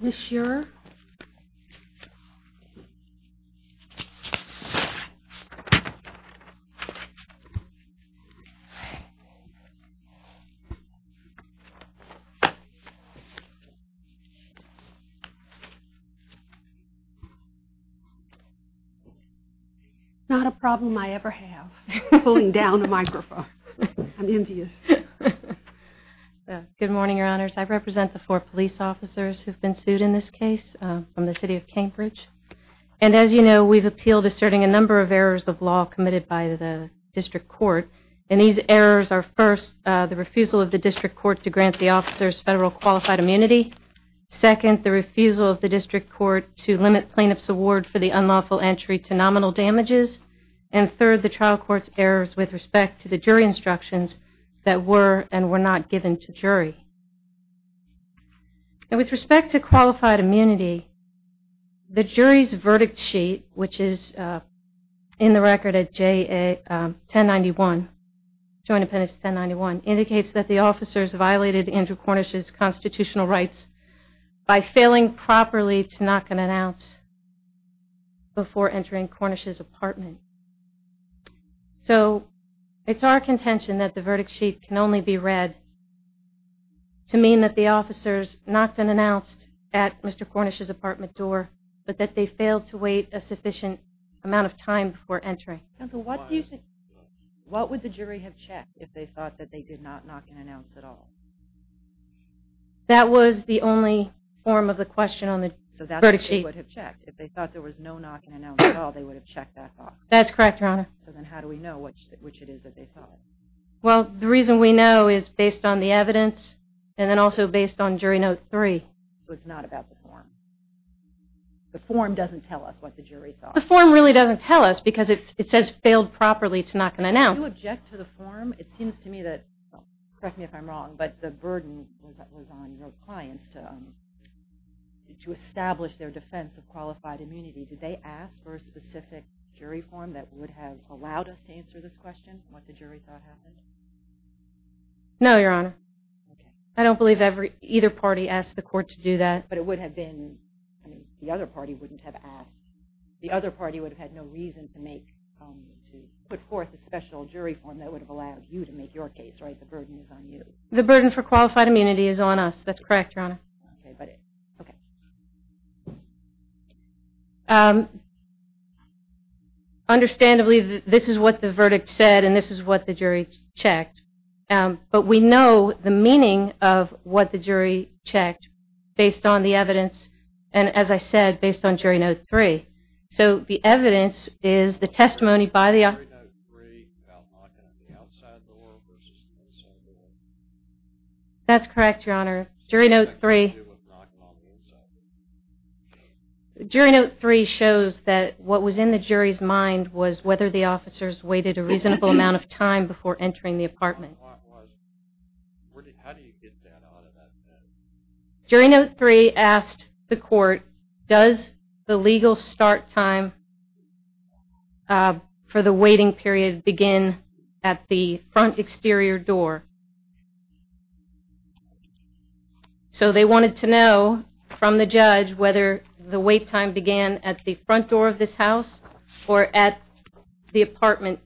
Ms. Shearer Not a problem I ever have pulling down a microphone I'm envious Good morning your honors I represent the four police officers who have been sued in this case from the city of Cambridge and as you know we've appealed asserting a number of errors of law committed by the district court and these errors are first the refusal of the district court to grant the officers federal qualified immunity, second the refusal of the district court to limit plaintiff's award for the unlawful entry to nominal damages, and third the trial court's errors with respect to the jury instructions that were and were not given to jury. With respect to qualified immunity the jury's verdict sheet, which is in the record at 1091, indicates that the officers violated Andrew Cornish's constitutional rights by failing properly to knock on an ounce before entering Cornish's apartment. So it's our contention that the verdict sheet can only be read to mean that the officers knocked an ounce at Mr. Cornish's apartment door, but that they failed to wait a sufficient amount of time before entering. What would the jury have checked if they thought that they did not knock an ounce at all? That was the only form of the question on the verdict sheet. If they thought there was no knocking an ounce at all, they would have checked that box. So then how do we know which it is that they saw? The reason we know is based on the evidence and then also based on jury note three. So it's not about the form. The form doesn't tell us what the jury thought. The form really doesn't tell us because it says failed properly to knock an ounce. Do you object to the form? It seems to me that the burden was on your clients to establish their defense of qualified immunity. Did they ask for a specific jury form that would have allowed us to answer this question, what the jury thought happened? No, Your Honor. I don't believe either party asked the court to do that. But it would have been, I mean, the other party wouldn't have asked. The other party would have had no reason to make to put forth a special jury form that would have allowed you to make your case, right? The burden was on you. The burden for qualified immunity is on us. That's correct, Your Honor. Okay. Understandably, this is what the verdict said and this is what the jury checked. But we know the meaning of what the jury checked based on the evidence and, as I said, based on jury note three. So the evidence is the testimony by the... That's correct, Your Honor. Jury note three... Jury note three shows that what was in the jury's mind was whether the officers waited a reasonable amount of time before entering the apartment. Jury note three asked the court, does the legal start time for the waiting period begin at the front exterior door? So they wanted to know from the judge whether the wait time began at the front door of this house or at the apartment.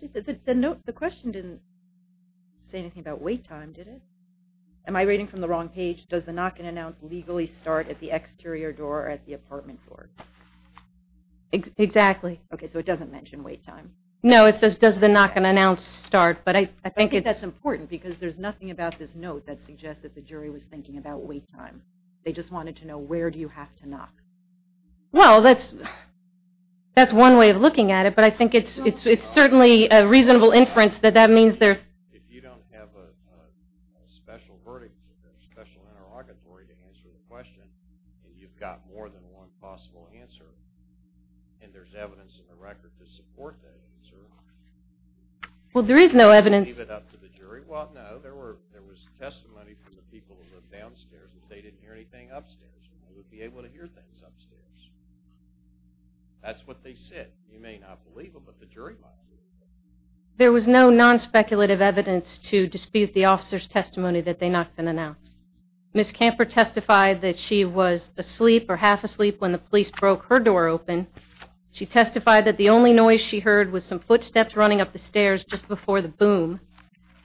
The question didn't say anything about wait time, did it? Am I reading from the wrong page? Does the knock and announce legally start at the exterior door or at the apartment door? Exactly. Okay, so it doesn't mention wait time. No, it says does the knock and announce start, but I think... I think that's important because there's nothing about this note that suggests that the jury was thinking about wait time. They just wanted to know where do you have to knock. Well, that's... That's one way of looking at it, but I think it's certainly a reasonable inference that that means there... If you don't have a special verdict, a special interrogatory to answer the question and you've got more than one possible answer and there's no evidence in the record to support that answer... Well, there is no evidence... Well, no. There was testimony from the people who lived downstairs that they didn't hear anything upstairs. They would be able to hear things upstairs. That's what they said. You may not believe them, but the jury might believe them. There was no non-speculative evidence to dispute the officer's testimony that they knocked and announced. Ms. Camper testified that she was asleep or half-asleep when the officer testified that the only noise she heard was some footsteps running up the stairs just before the boom.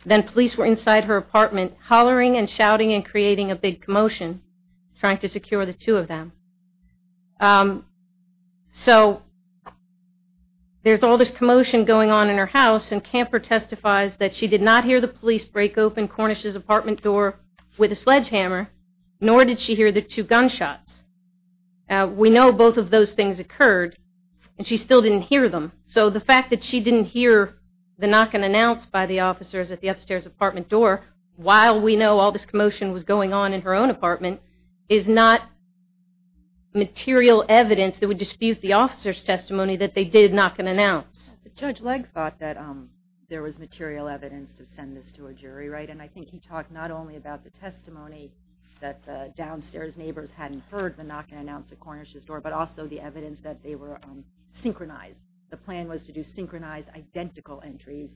Then police were inside her apartment hollering and shouting and creating a big commotion trying to secure the two of them. So, there's all this commotion going on in her house, and Camper testifies that she did not hear the police break open Cornish's apartment door with a sledgehammer, nor did she hear the two gunshots. We know both of those things occurred, and she still didn't hear them. So, the fact that she didn't hear the knock and announce by the officers at the upstairs apartment door while we know all this commotion was going on in her own apartment is not material evidence that would dispute the officer's testimony that they did knock and announce. Judge Legg thought that there was material evidence to send this to a jury, right? And I think he talked not only about the testimony that the downstairs neighbors hadn't heard the knock and announce at Cornish's door, but also the evidence that they were synchronized. The plan was to do synchronized identical entries,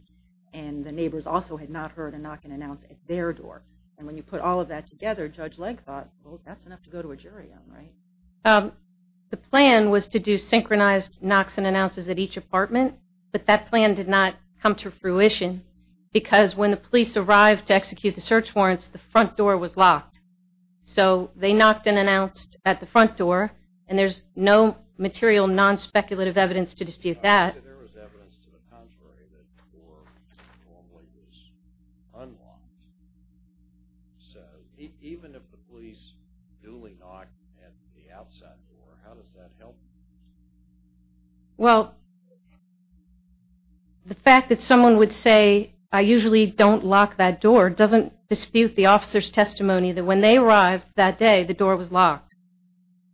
and the neighbors also had not heard a knock and announce at their door. And when you put all of that together, Judge Legg thought, well, that's enough to go to a jury on, right? The plan was to do synchronized knocks and announces at each apartment, but that plan did not come to fruition, because when the police arrived to execute the search warrants, the front door was locked. So they knocked and announced at the front door, and there's no material, non-speculative evidence to dispute that. Well, the fact that someone would say, I usually don't lock that door, doesn't dispute the officer's testimony that when they arrived that day, the door was locked.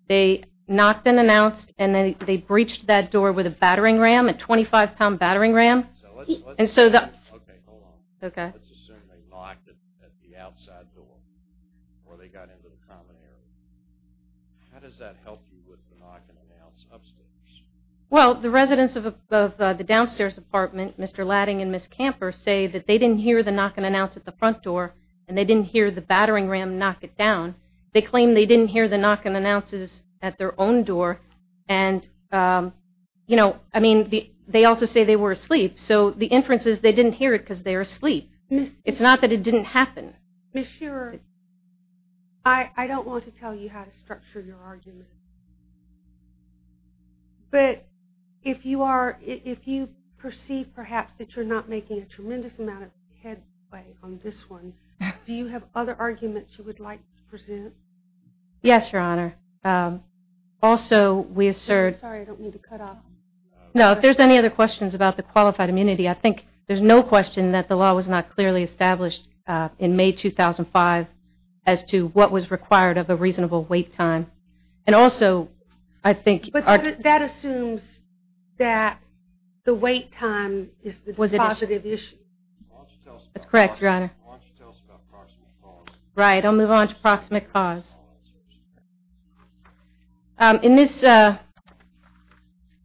They knocked and announced, and they breached that door with a battering ram, a 25-pound battering ram. Well, the residents of the downstairs apartment, Mr. Ladding and Mr. Ladding, they didn't hear the knock and announce at the front door, and they didn't hear the battering ram knock it down. They claim they didn't hear the knock and announces at their own door, and you know, I mean, they also say they were asleep, so the inference is they didn't hear it because they were asleep. It's not that it didn't happen. Ms. Shearer, I don't want to tell you how to structure your argument. But if you are, if you perceive perhaps that you're not making a tremendous amount of headway on this one, do you have other arguments you would like to present? Yes, Your Honor. Also, we assert... Sorry, I don't mean to cut off. No, if there's any other questions about the qualified immunity, I think there's no question that the law was not clearly established in May 2005 as to what was required of a reasonable wait time. And also, I think... But that assumes that the wait time is a positive issue. That's correct, Your Honor. Why don't you tell us about proximate cause? Right, I'll move on to proximate cause. In this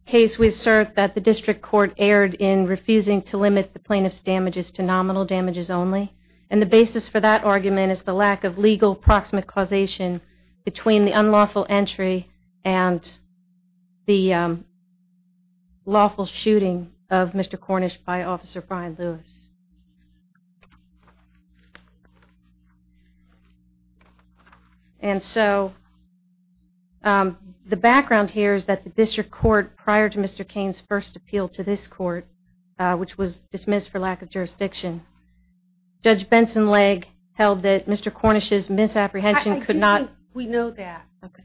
case, we assert that the district court erred in refusing to limit the plaintiff's damages to nominal damages only. And the basis for that argument is the lack of legal proximate causation between the unlawful entry and the lawful shooting of Mr. Cornish by Officer Brian Lewis. And so, the background here is that the district court, prior to Mr. Kane's first appeal to this court, which was dismissed for lack of jurisdiction, Judge Benson Legg held that Mr. Cornish's misapprehension could not... I think we know that. Okay.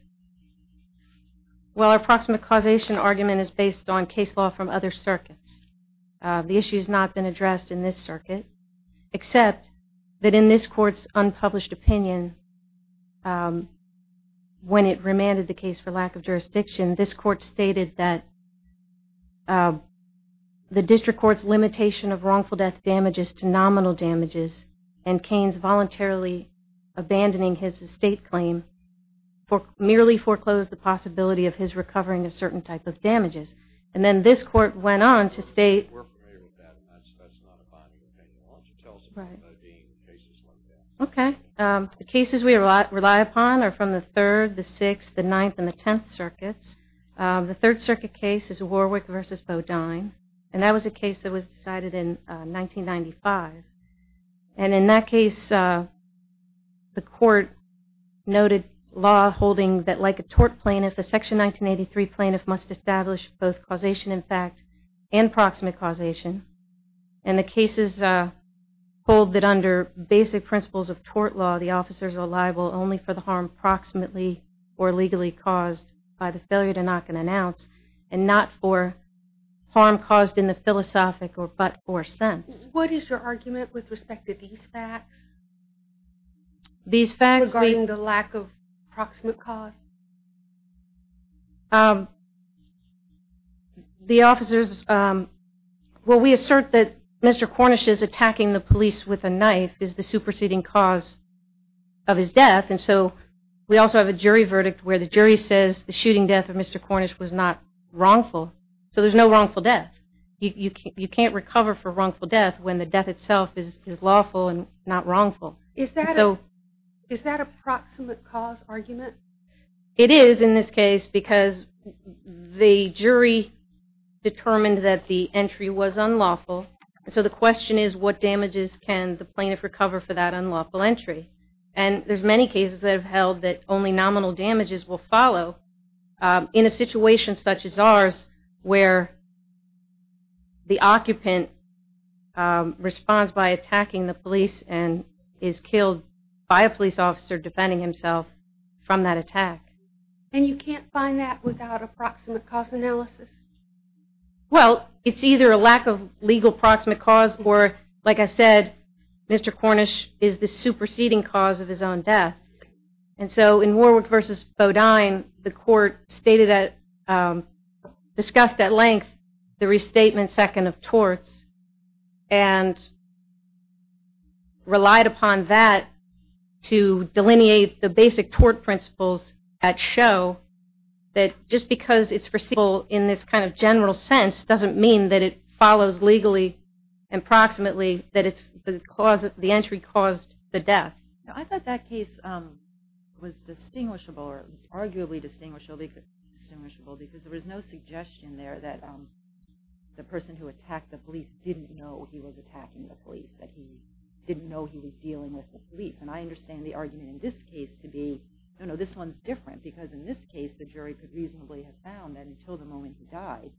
Well, our proximate causation argument is based on case law from other circuits. The issue has not been addressed in this circuit, except that in this court's unpublished opinion, when it remanded the case for lack of jurisdiction, this court stated that the district court's limitation of wrongful death damages to nominal damages, and Kane's voluntarily abandoning his estate claim, merely foreclosed the possibility of his recovering a certain type of damages. And then this court went on to state... Okay. The cases we rely upon are from the 3rd, the 6th, the 9th, and the 10th circuits. The 3rd circuit case is Warwick v. Bodine, and that was a case that was decided in 1995. And in that case, the court noted law holding that like a tort plaintiff, a Section 1983 plaintiff must establish both causation in fact and proximate causation. And the cases hold that under basic principles of tort law, the officers are liable only for the harm proximately or legally caused by the failure to knock an ounce, and not for harm caused in the philosophic or but-for sense. What is your argument with respect to these facts? Regarding the lack of proximate cause? The officers... Well, we assert that Mr. Cornish is attacking the police with a knife is the superseding cause of his death, and so we also have a jury verdict where the jury says the shooting death of Mr. Cornish was not wrongful, so there's no wrongful death. You can't recover for wrongful death when the death itself is lawful and not wrongful. Is that a proximate cause argument? It is in this case because the jury determined that the entry was unlawful, so the question is what damages can the plaintiff recover for that unlawful entry? And there's many cases that have held that only nominal damages will follow in a situation such as ours where the occupant responds by attacking the police and is killed by a police officer defending himself from that attack. And you can't find that without a proximate cause analysis? Well, it's either a lack of legal proximate cause, or like I said, Mr. Cornish is the superseding cause of his own death, and so in Warwick v. Bodine, the court stated that... the restatement second of torts and relied upon that to delineate the basic tort principles that show that just because it's foreseeable in this kind of general sense doesn't mean that it follows legally and proximately that the entry caused the death. I thought that case was distinguishable, or arguably distinguishable because there was no suggestion there that the person who attacked the police didn't know he was attacking the police, that he didn't know he was dealing with the police. And I understand the argument in this case to be, no, no, this one's different because in this case the jury could reasonably have found that until the moment he died,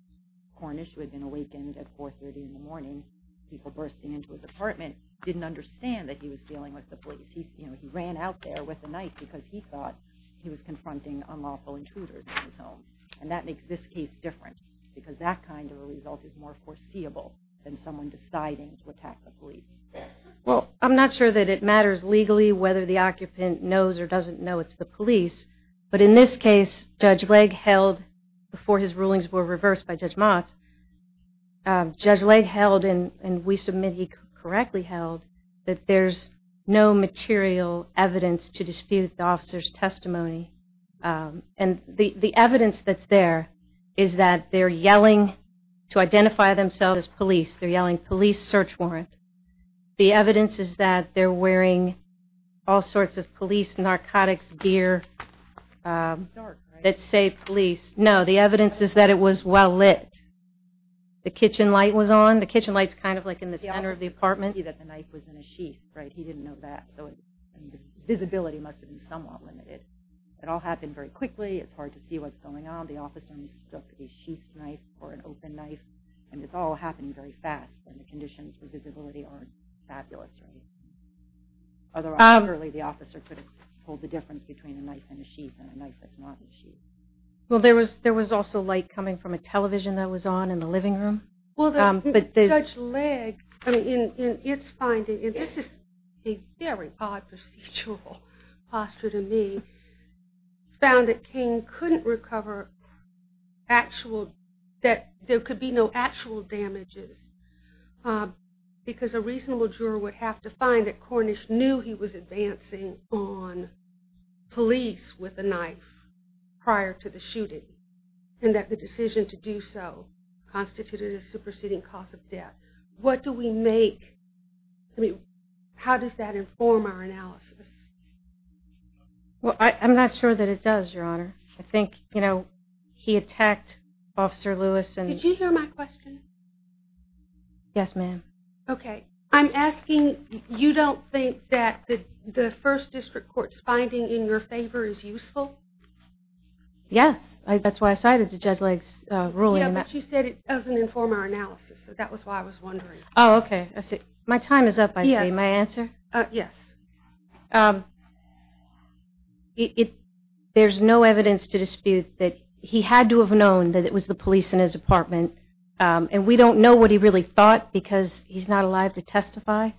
Cornish, who had been awakened at 430 in the morning, people bursting into his apartment, didn't understand that he was dealing with the police. He ran out there with a knife because he thought he was confronting unlawful intruders in his home. And that makes this case different because that kind of result is more foreseeable than someone deciding to attack the police. Well, I'm not sure that it matters legally whether the occupant knows or doesn't know it's the police, but in this case, Judge Legg held before his rulings were reversed by Judge Motz, Judge Legg held, and we submit he correctly held, that there's no material evidence to dispute the officer's The evidence that's there is that they're yelling to identify themselves as police, they're yelling police search warrant. The evidence is that they're wearing all sorts of police narcotics gear that say police. No, the evidence is that it was well lit. The kitchen light was on. The kitchen light's kind of like in the center of the apartment. He didn't know that. Visibility must have been somewhat limited. It all happened very quickly. It's hard to see what's going on. The officer took a sheath knife or an open knife and it's all happening very fast and the conditions for visibility aren't fabulous. Otherwise, clearly, the officer could have told the difference between a knife and a sheath and a knife that's not a sheath. Well, there was also light coming from a television that was on in the living room. Judge Legg, in its finding, and this is a very odd procedural posture to me, found that Kane couldn't recover actual, that there could be no actual damages because a reasonable juror would have to find that Cornish knew he was advancing on police with a knife prior to the shooting and that the decision to do so constituted a superseding cost of death. What do we make? How does that inform our analysis? Well, I'm not sure that it does, Your Honor. I think he attacked Officer Lewis and... Did you hear my question? Yes, ma'am. Okay. I'm asking you don't think that the First District Court's finding in your favor is useful? Yes. That's why I cited the Judge Legg's ruling. Yeah, but she said it doesn't inform our analysis. That was why I was wondering. Oh, okay. My time is up, I see. My answer? Yes. There's no evidence to dispute that he had to have known that it was the police in his apartment, and we don't know what he really thought because he's not alive to testify,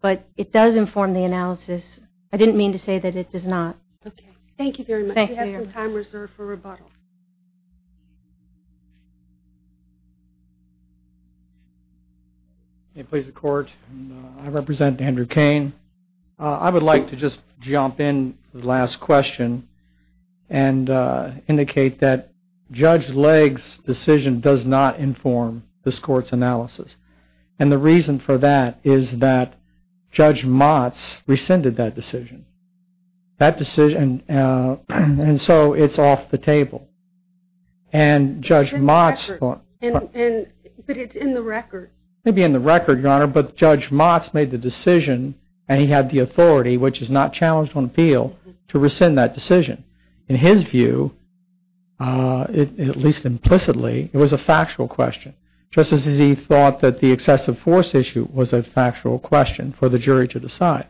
but it does inform the analysis. I didn't mean to say that it does not. Okay. Thank you very much. We have some time reserved for rebuttal. May it please the Court? I represent Andrew Cain. I would like to just jump in for the last question and indicate that Judge Legg's decision does not inform this Court's analysis. And the reason for that is that Judge Motz rescinded that decision. And so it's off the table. And Judge Motz... But it's in the record. Maybe in the record, Your Honor, but Judge Motz made the decision and he had the authority, which is not challenged on appeal, to rescind that decision. In his view, at least implicitly, it was a factual question. Just as he thought that the excessive force issue was a factual question for the jury to decide.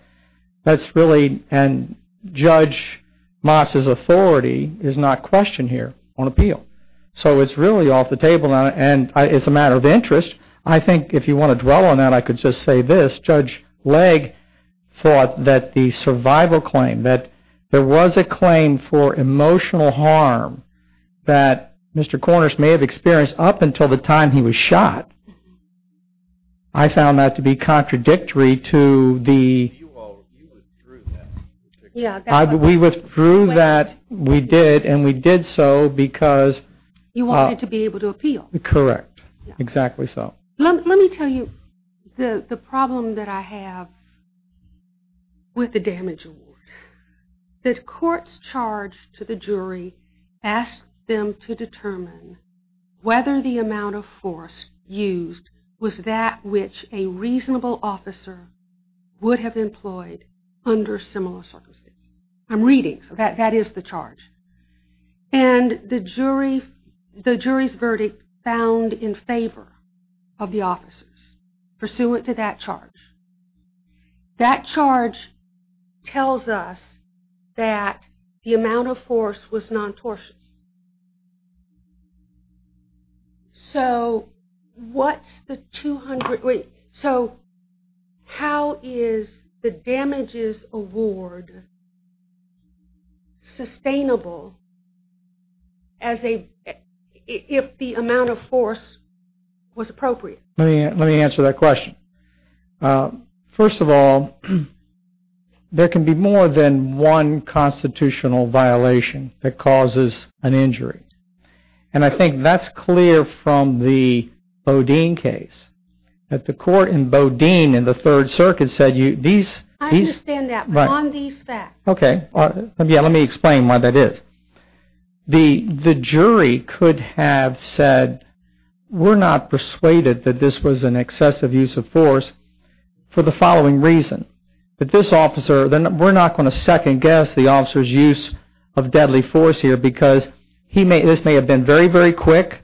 And Judge Motz's authority is not questioned here on appeal. So it's really off the table. And it's a matter of interest. I think, if you want to dwell on that, I could just say this. Judge Legg thought that the survival claim, that there was a claim for emotional harm that Mr. Cornish may have experienced up until the time he was shot, I found that to be contradictory to the... You withdrew that. We withdrew that. We did, and we did so because... You wanted to be able to appeal. Correct. Exactly so. Let me tell you the problem that I have with the damage award. The court's charge to the jury asked them to determine whether the amount of force used was that which a reasonable officer would have employed under similar circumstances. I'm reading, so that is the charge. And the jury's verdict found in favor of the officers. Pursuant to that charge. That charge tells us that the amount of force was non-tortious. So what's the 200... How is the damages award sustainable as a... If the amount of force was appropriate? Let me answer that question. First of all, there can be more than one constitutional violation that causes an injury. And I think that's clear from the Bodine case. That the court in Bodine and the Third Circuit said... I understand that, but on these facts. Okay. Let me explain why that is. The jury could have said, we're not persuaded that this was an excessive use of force for the following reason. That this officer... We're not going to second guess the officer's use of deadly force here because this may have been very, very quick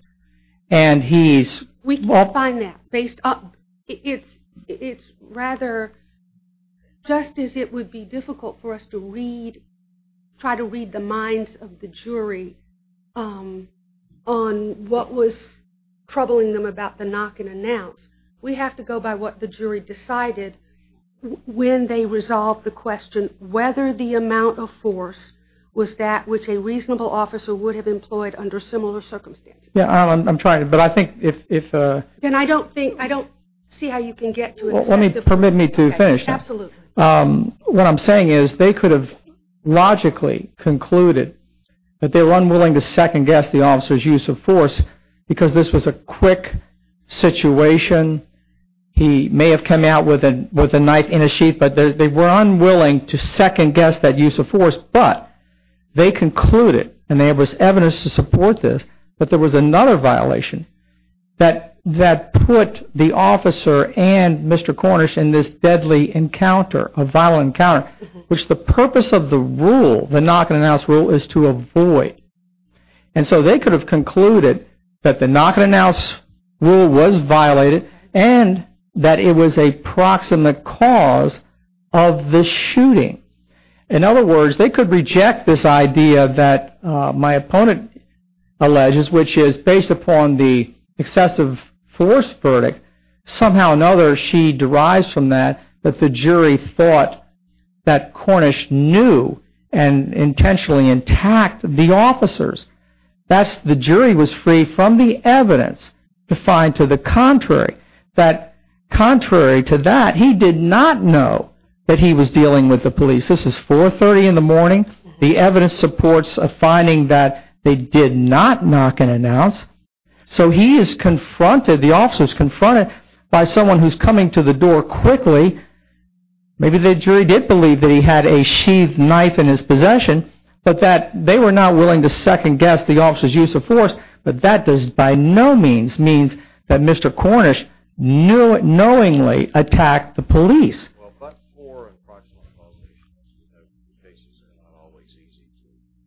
and he's... We can't find that. Based on... It's rather... Just as it would be difficult for us to read... Try to read the minds of the jury on what was troubling them about the knock and announce. We have to go by what the jury decided when they resolved the question whether the amount of force was that which a reasonable officer would have employed under similar circumstances. I'm trying to... But I think if... I don't think... I don't see how you can get to... Let me... Permit me to finish. Absolutely. What I'm saying is they could have logically concluded that they were unwilling to second guess the officer's use of force because this was a quick situation. He may have come out with a knife in his sheet but they were unwilling to second guess that use of force but they concluded and there was evidence to support this that there was another violation that put the officer and Mr. Cornish in this deadly encounter, a violent encounter, which the purpose of the rule, the knock and announce rule, is to avoid. And so they could have concluded that the knock and announce rule was violated and that it was a proximate cause of the shooting. In other words, they could reject this idea that my opponent alleges, which is based upon the excessive force verdict, somehow or another she derives from that that the jury thought that Cornish knew and intentionally attacked the officers. The jury was free from the evidence to find to the contrary that contrary to that, he did not know that he was dealing with the police. This is 430 in the morning. The evidence supports a finding that they did not knock and announce. So he is confronted, the officer is confronted by someone who is coming to the door quickly. Maybe the jury did believe that he had a sheathed knife in his possession, but that they were not willing to second guess the officer's use of force, but that does by no means mean that Mr. Cornish knowingly attacked the police. The cases are not always easy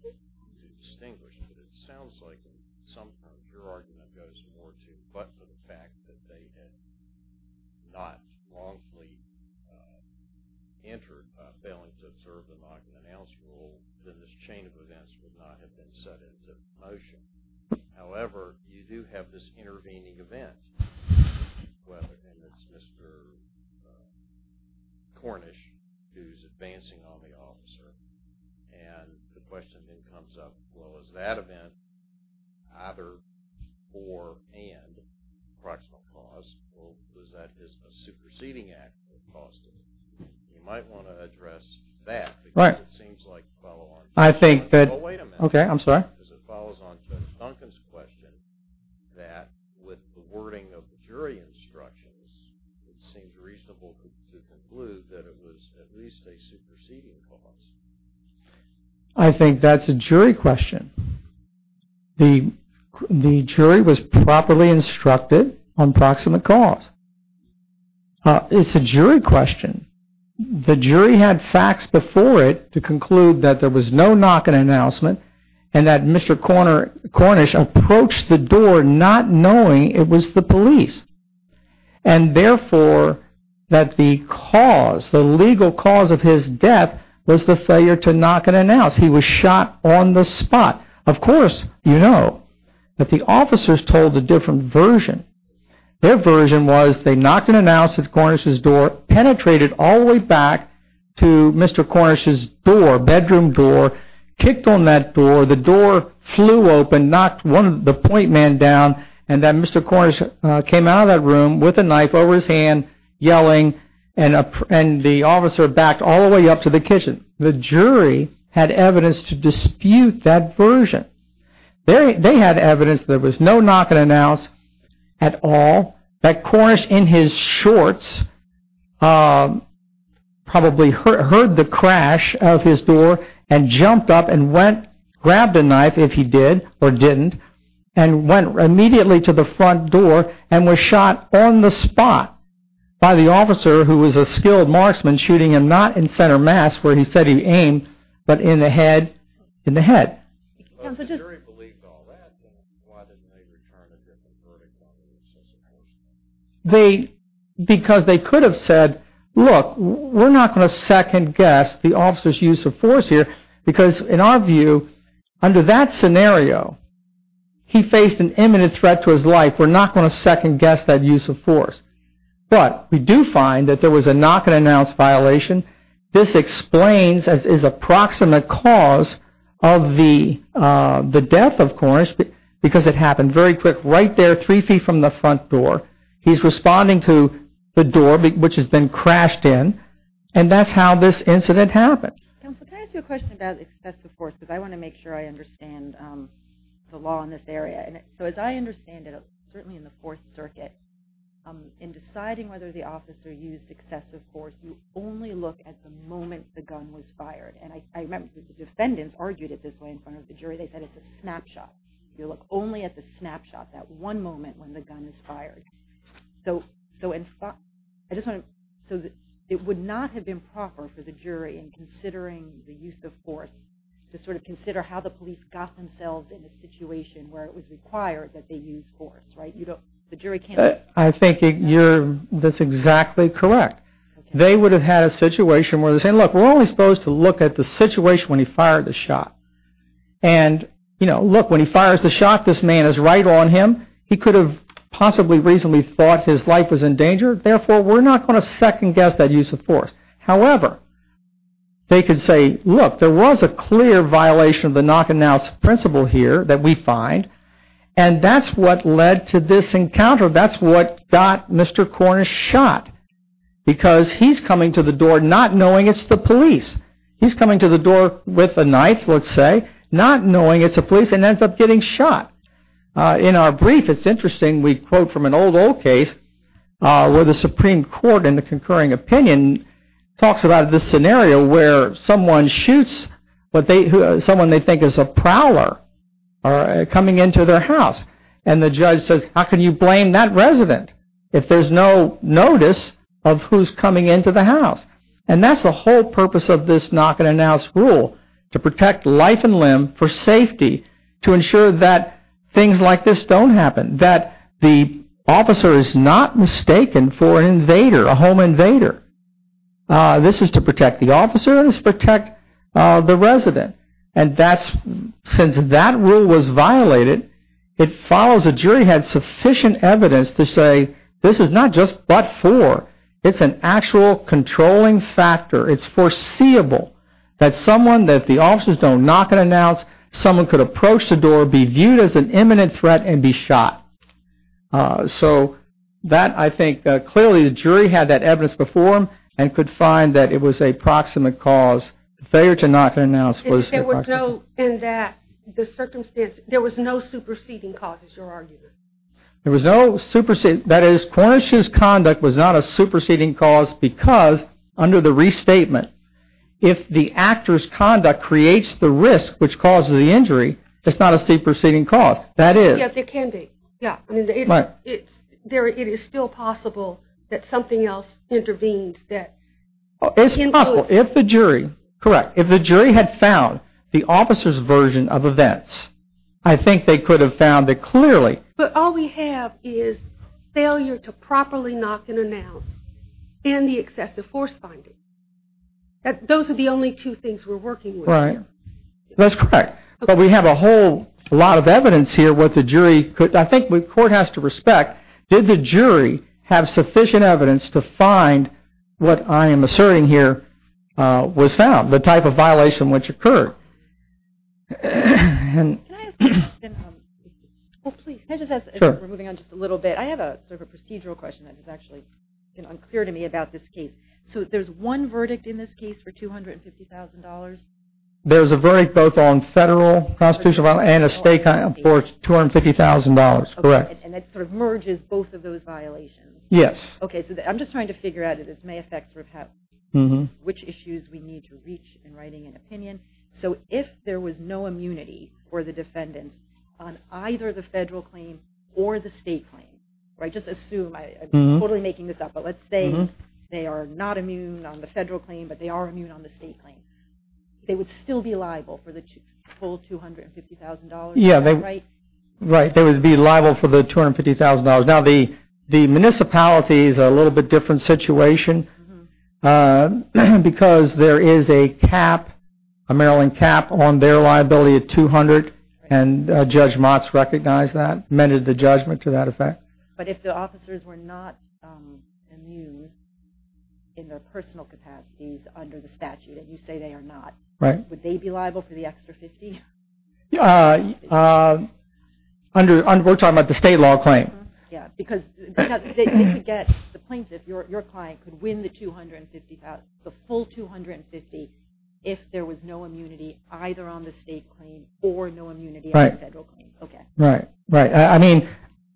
to distinguish, but it sounds like sometimes your argument goes more to but for the fact that they had not wrongfully entered by failing to observe the knock and announce rule, then this chain of events would not have been set into motion. However, you do have this intervening event, whether it's Mr. Cornish who is advancing on the officer and the question then comes up, well, is that event either for and proximal cause, or was that a superseding act that caused it? You might want to address that, because it seems like the follow-on... It follows on Judge Duncan's question that with the wording of the jury instructions, it seems reasonable to conclude that it was at least a superseding cause. I think that's a jury question. The jury was properly instructed on proximate cause. It's a jury question. The jury had facts before it to conclude that there was no knock and announcement, and that Mr. Cornish approached the door not knowing it was the police. And therefore, that the cause, the legal cause of his death, was the failure to knock and announce. He was shot on the spot. Of course, you know, that the officers told a different version. Their version was they knocked and announced at Cornish's door, penetrated all the way back to Mr. Cornish's door, bedroom door, kicked on that door, the door flew open, knocked the point man down, and then Mr. Cornish came out of that room with a knife over his hand, yelling, and the officer backed all the way up to the kitchen. The jury had evidence to dispute that version. They had evidence there was no knock and announce at all, that Cornish in his shorts probably heard the crash of his door and jumped up and went, grabbed a knife if he did, or immediately to the front door and was shot on the spot by the officer who was a skilled marksman, shooting him not in center mass where he said he aimed, but in the head. Because they could have said, look, we're not going to second guess the officer's use of force here, because in our view, under that scenario, he faced an imminent threat to his life. We're not going to second guess that use of force. But we do find that there was a knock and announce violation. This explains as is approximate cause of the death of Cornish, because it happened very quick, right there, three feet from the front door. He's responding to the door, which has been crashed in, and that's how this incident happened. Can I ask you a question about excessive force? Because I want to make sure I understand the law in this area. As I understand it, certainly in the Fourth Circuit, in deciding whether the officer used excessive force, you only look at the moment the gun was fired. I remember the defendants argued it this way in front of the jury. They said it's a snapshot. You look only at the snapshot, that one moment when the gun is fired. It would not have been proper for the jury, in considering the use of force, to consider how the police got themselves in a situation where it was required that they use force, right? I think that's exactly correct. They would have had a situation where they're saying, look, we're only supposed to look at the situation when he fired the shot. Look, when he fires the shot, this man is right on him. He could have possibly reasonably thought his life was in danger. Therefore, we're not going to second-guess that use of force. However, they could say, look, there was a clear violation of the knock-and-know principle here that we find, and that's what led to this encounter. That's what got Mr. Cornish shot, because he's coming to the door not knowing it's the police. He's coming to the door with a knife, let's say, not knowing it's the police, and ends up getting shot. In our brief, it's interesting, we quote from an old, old case where the Supreme Court in the concurring opinion talks about this scenario where someone shoots someone they think is a prowler coming into their house, and the judge says, how can you blame that resident if there's no notice of who's coming into the house? And that's the whole purpose of this knock-and-announce rule, to protect life and limb for safety, to ensure that things like this don't happen, that the officer is not mistaken for an invader, a home invader. This is to protect the officer, this is to protect the resident. And that's, since that rule was violated, it follows the jury had sufficient evidence to say this is not just but-for, it's an actual controlling factor, it's foreseeable that someone that the officers don't knock-and-announce, someone could approach the door, be viewed as an imminent threat, and be shot. So that, I think, clearly the jury had that evidence before them, and could find that it was a proximate cause. Failure to knock-and-announce was a proximate cause. And that there was no superseding cause, as you're arguing. That is, Cornish's conduct was not a superseding cause because, under the restatement, if the actor's conduct creates the risk which causes the injury, it's not a superseding cause. That is... Yeah, it can be. Yeah, I mean, it's... It is still possible that something else intervenes that influences... It's possible. If the jury... Correct. If the jury had found the officer's version of events, I think they could have found that clearly... But all we have is failure to properly knock-and-announce, and the excessive force finding. Those are the only two things we're working with here. Right. That's correct. But we have a whole lot of evidence here what the jury could... I think the court has to respect, did the jury have sufficient evidence to find what I am asserting here was found, the type of violation which occurred? And... Can I ask a question? Oh, please. Can I just ask... Sure. We're moving on just a little bit. I have sort of a procedural question that has actually been unclear to me about this case. So there's one verdict in this case for $250,000? There's a verdict both on federal constitutional violation and a state kind of for $250,000. Correct. And that sort of merges both of those violations? Yes. Okay, so I'm just trying to figure out if this may affect which issues we need to reach in writing an opinion. So if there was no immunity for the defendant on either the federal claim or the state claim, right, just assume... I'm totally making this up, but let's say they are not immune on the federal claim but they are immune on the state claim. They would still be liable for the full $250,000? Right. They would be liable for the $250,000. Now the municipality is a little bit different situation because there is a cap, a Maryland cap on their liability of $200,000 and Judge Motz recognized that, amended the judgment to that effect. But if the officers were not immune in their personal capacities under the statute and you say they are not, would they be liable for the extra $50,000? We're talking about the state law claim. Because the plaintiff, your client, could win the full $250,000 if there was no immunity either on the state claim or no immunity on the federal claim. Right. I mean,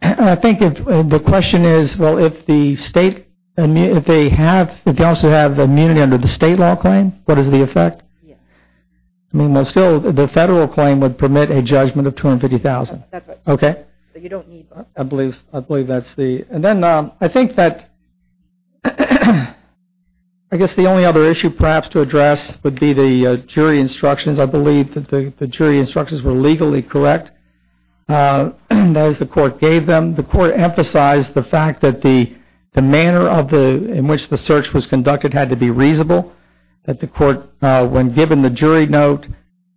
I think the question is, well, if the state, if they also have immunity under the state law claim, what is the effect? I mean, still the federal claim would permit a judgment of $250,000. I believe that's the, and then I think that I guess the only other issue perhaps to address would be the jury instructions. I believe that the jury instructions were legally correct as the court gave them. The court emphasized the fact that the manner of the, in which the search was conducted had to be reasonable. That the court, when given the jury note,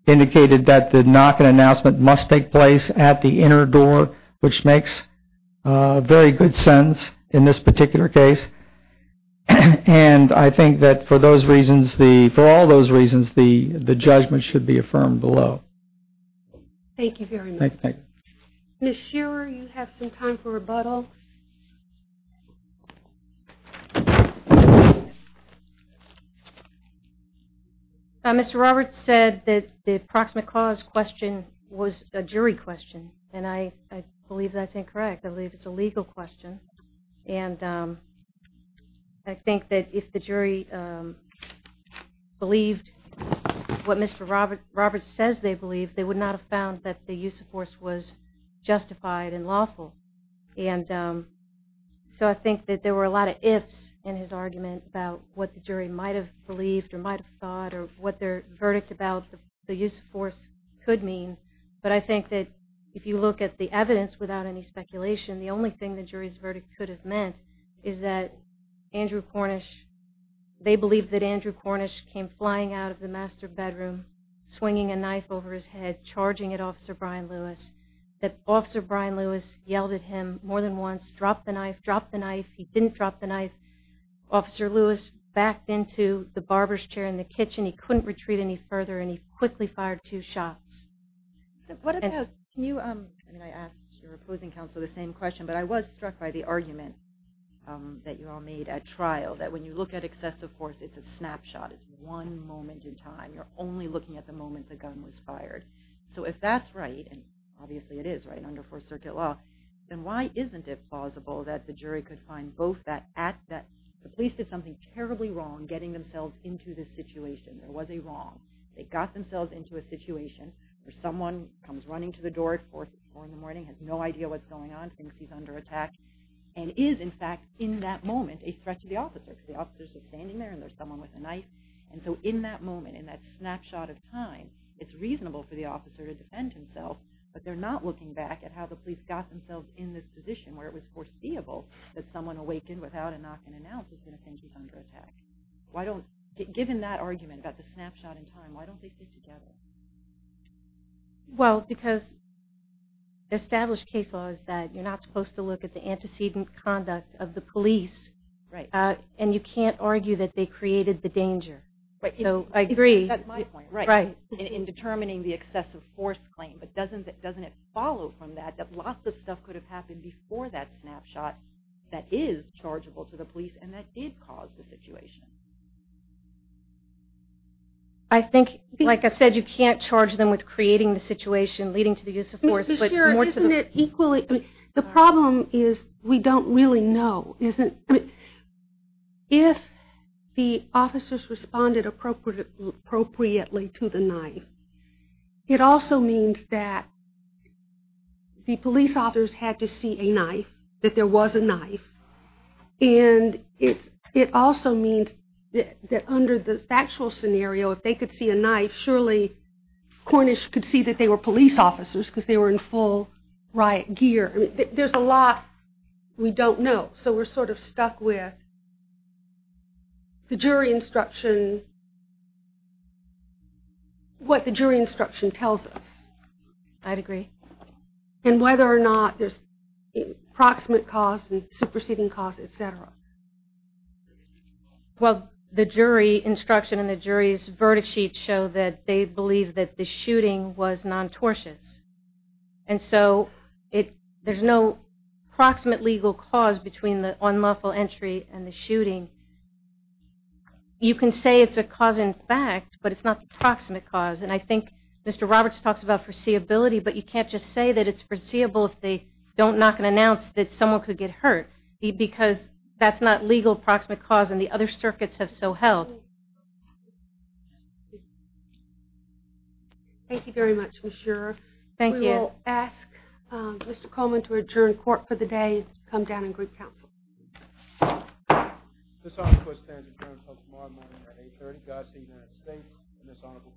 indicated that the knocking announcement must take place at the inner door, which makes very good sense in this particular case. And I think that for those reasons, for all those reasons, the judgment should be affirmed below. Thank you very much. Ms. Shearer, you have some time for rebuttal. Mr. Roberts said that the approximate cause question was a jury question. And I believe that's incorrect. I believe it's a legal question. And I think that if the jury believed what Mr. Roberts says they believe that the use of force was justified and lawful. And so I think that there were a lot of ifs in his argument about what the jury might have believed or might have thought or what their verdict about the use of force could mean. But I think that if you look at the evidence without any speculation, the only thing the jury's verdict could have meant is that Andrew Cornish, they believe that Andrew Cornish came flying out of the master bedroom, swinging a knife over his head, charging at Officer Brian Lewis. That Officer Brian Lewis yelled at him more than once, drop the knife, drop the knife. He didn't drop the knife. Officer Lewis backed into the barber's chair in the kitchen. He couldn't retreat any further and he quickly fired two shots. Can you, I mean I asked your opposing counsel the same question, but I was struck by the argument that you all made at trial. That when you look at excessive force, it's a snapshot. It's one moment in time. You're only looking at the moment the gun was fired. So if that's right, and obviously it is right under Fourth Circuit law, then why isn't it plausible that the jury could find both that the police did something terribly wrong getting themselves into this situation. There was a wrong. They got themselves into a situation where someone comes running to the door at four in the morning, has no idea what's going on, thinks he's under attack, and is in fact in that moment a threat to the officer. The officer's just standing there and there's someone with a knife. And so in that moment, in that snapshot of time, it's reasonable for the officer to defend himself, but they're not looking back at how the police got themselves in this position where it was foreseeable that someone awakened without a knock and announced that they think he's under attack. Why don't, given that argument about the snapshot in time, why don't they stick together? Well, because established case law is that you're not supposed to look at the antecedent conduct of the police, and you can't argue that they created the danger. So, I agree. That's my point. In determining the excessive force claim, but doesn't it follow from that that lots of stuff could have happened before that snapshot that is chargeable to the police and that did cause the situation? I think, like I said, you can't charge them with creating the situation leading to the use of force, but more to the... Isn't it equally... The problem is we don't really know. If the officers responded appropriately to the knife, it also means that the police officers had to see a knife, that there was a knife, and it also means that under the factual scenario, if they could see a knife, surely Cornish could see that they were police officers because they were in full riot gear. There's a lot we don't know, so we're sort of stuck with the jury instruction, what the jury instruction tells us. I'd agree. And whether or not there's proximate cause and superseding cause, etc. Well, the jury instruction and the jury's verdict sheets show that they believe that the shooting was non-tortious. And so there's no proximate legal cause between the unlawful entry and the shooting. You can say it's a cause in fact, but it's not proximate cause, and I think Mr. Roberts talks about foreseeability, but you can't just say that it's foreseeable if they don't knock and announce that someone could get hurt because that's not legal proximate cause, and the other circuits have so held. Thank you. Thank you very much, Ms. Shurer. Thank you. We will ask Mr. Coleman to adjourn court for the day and come down in group council. This honorable court stands adjourned until tomorrow morning at 8.30. Godspeed, Madam State, and this honorable court.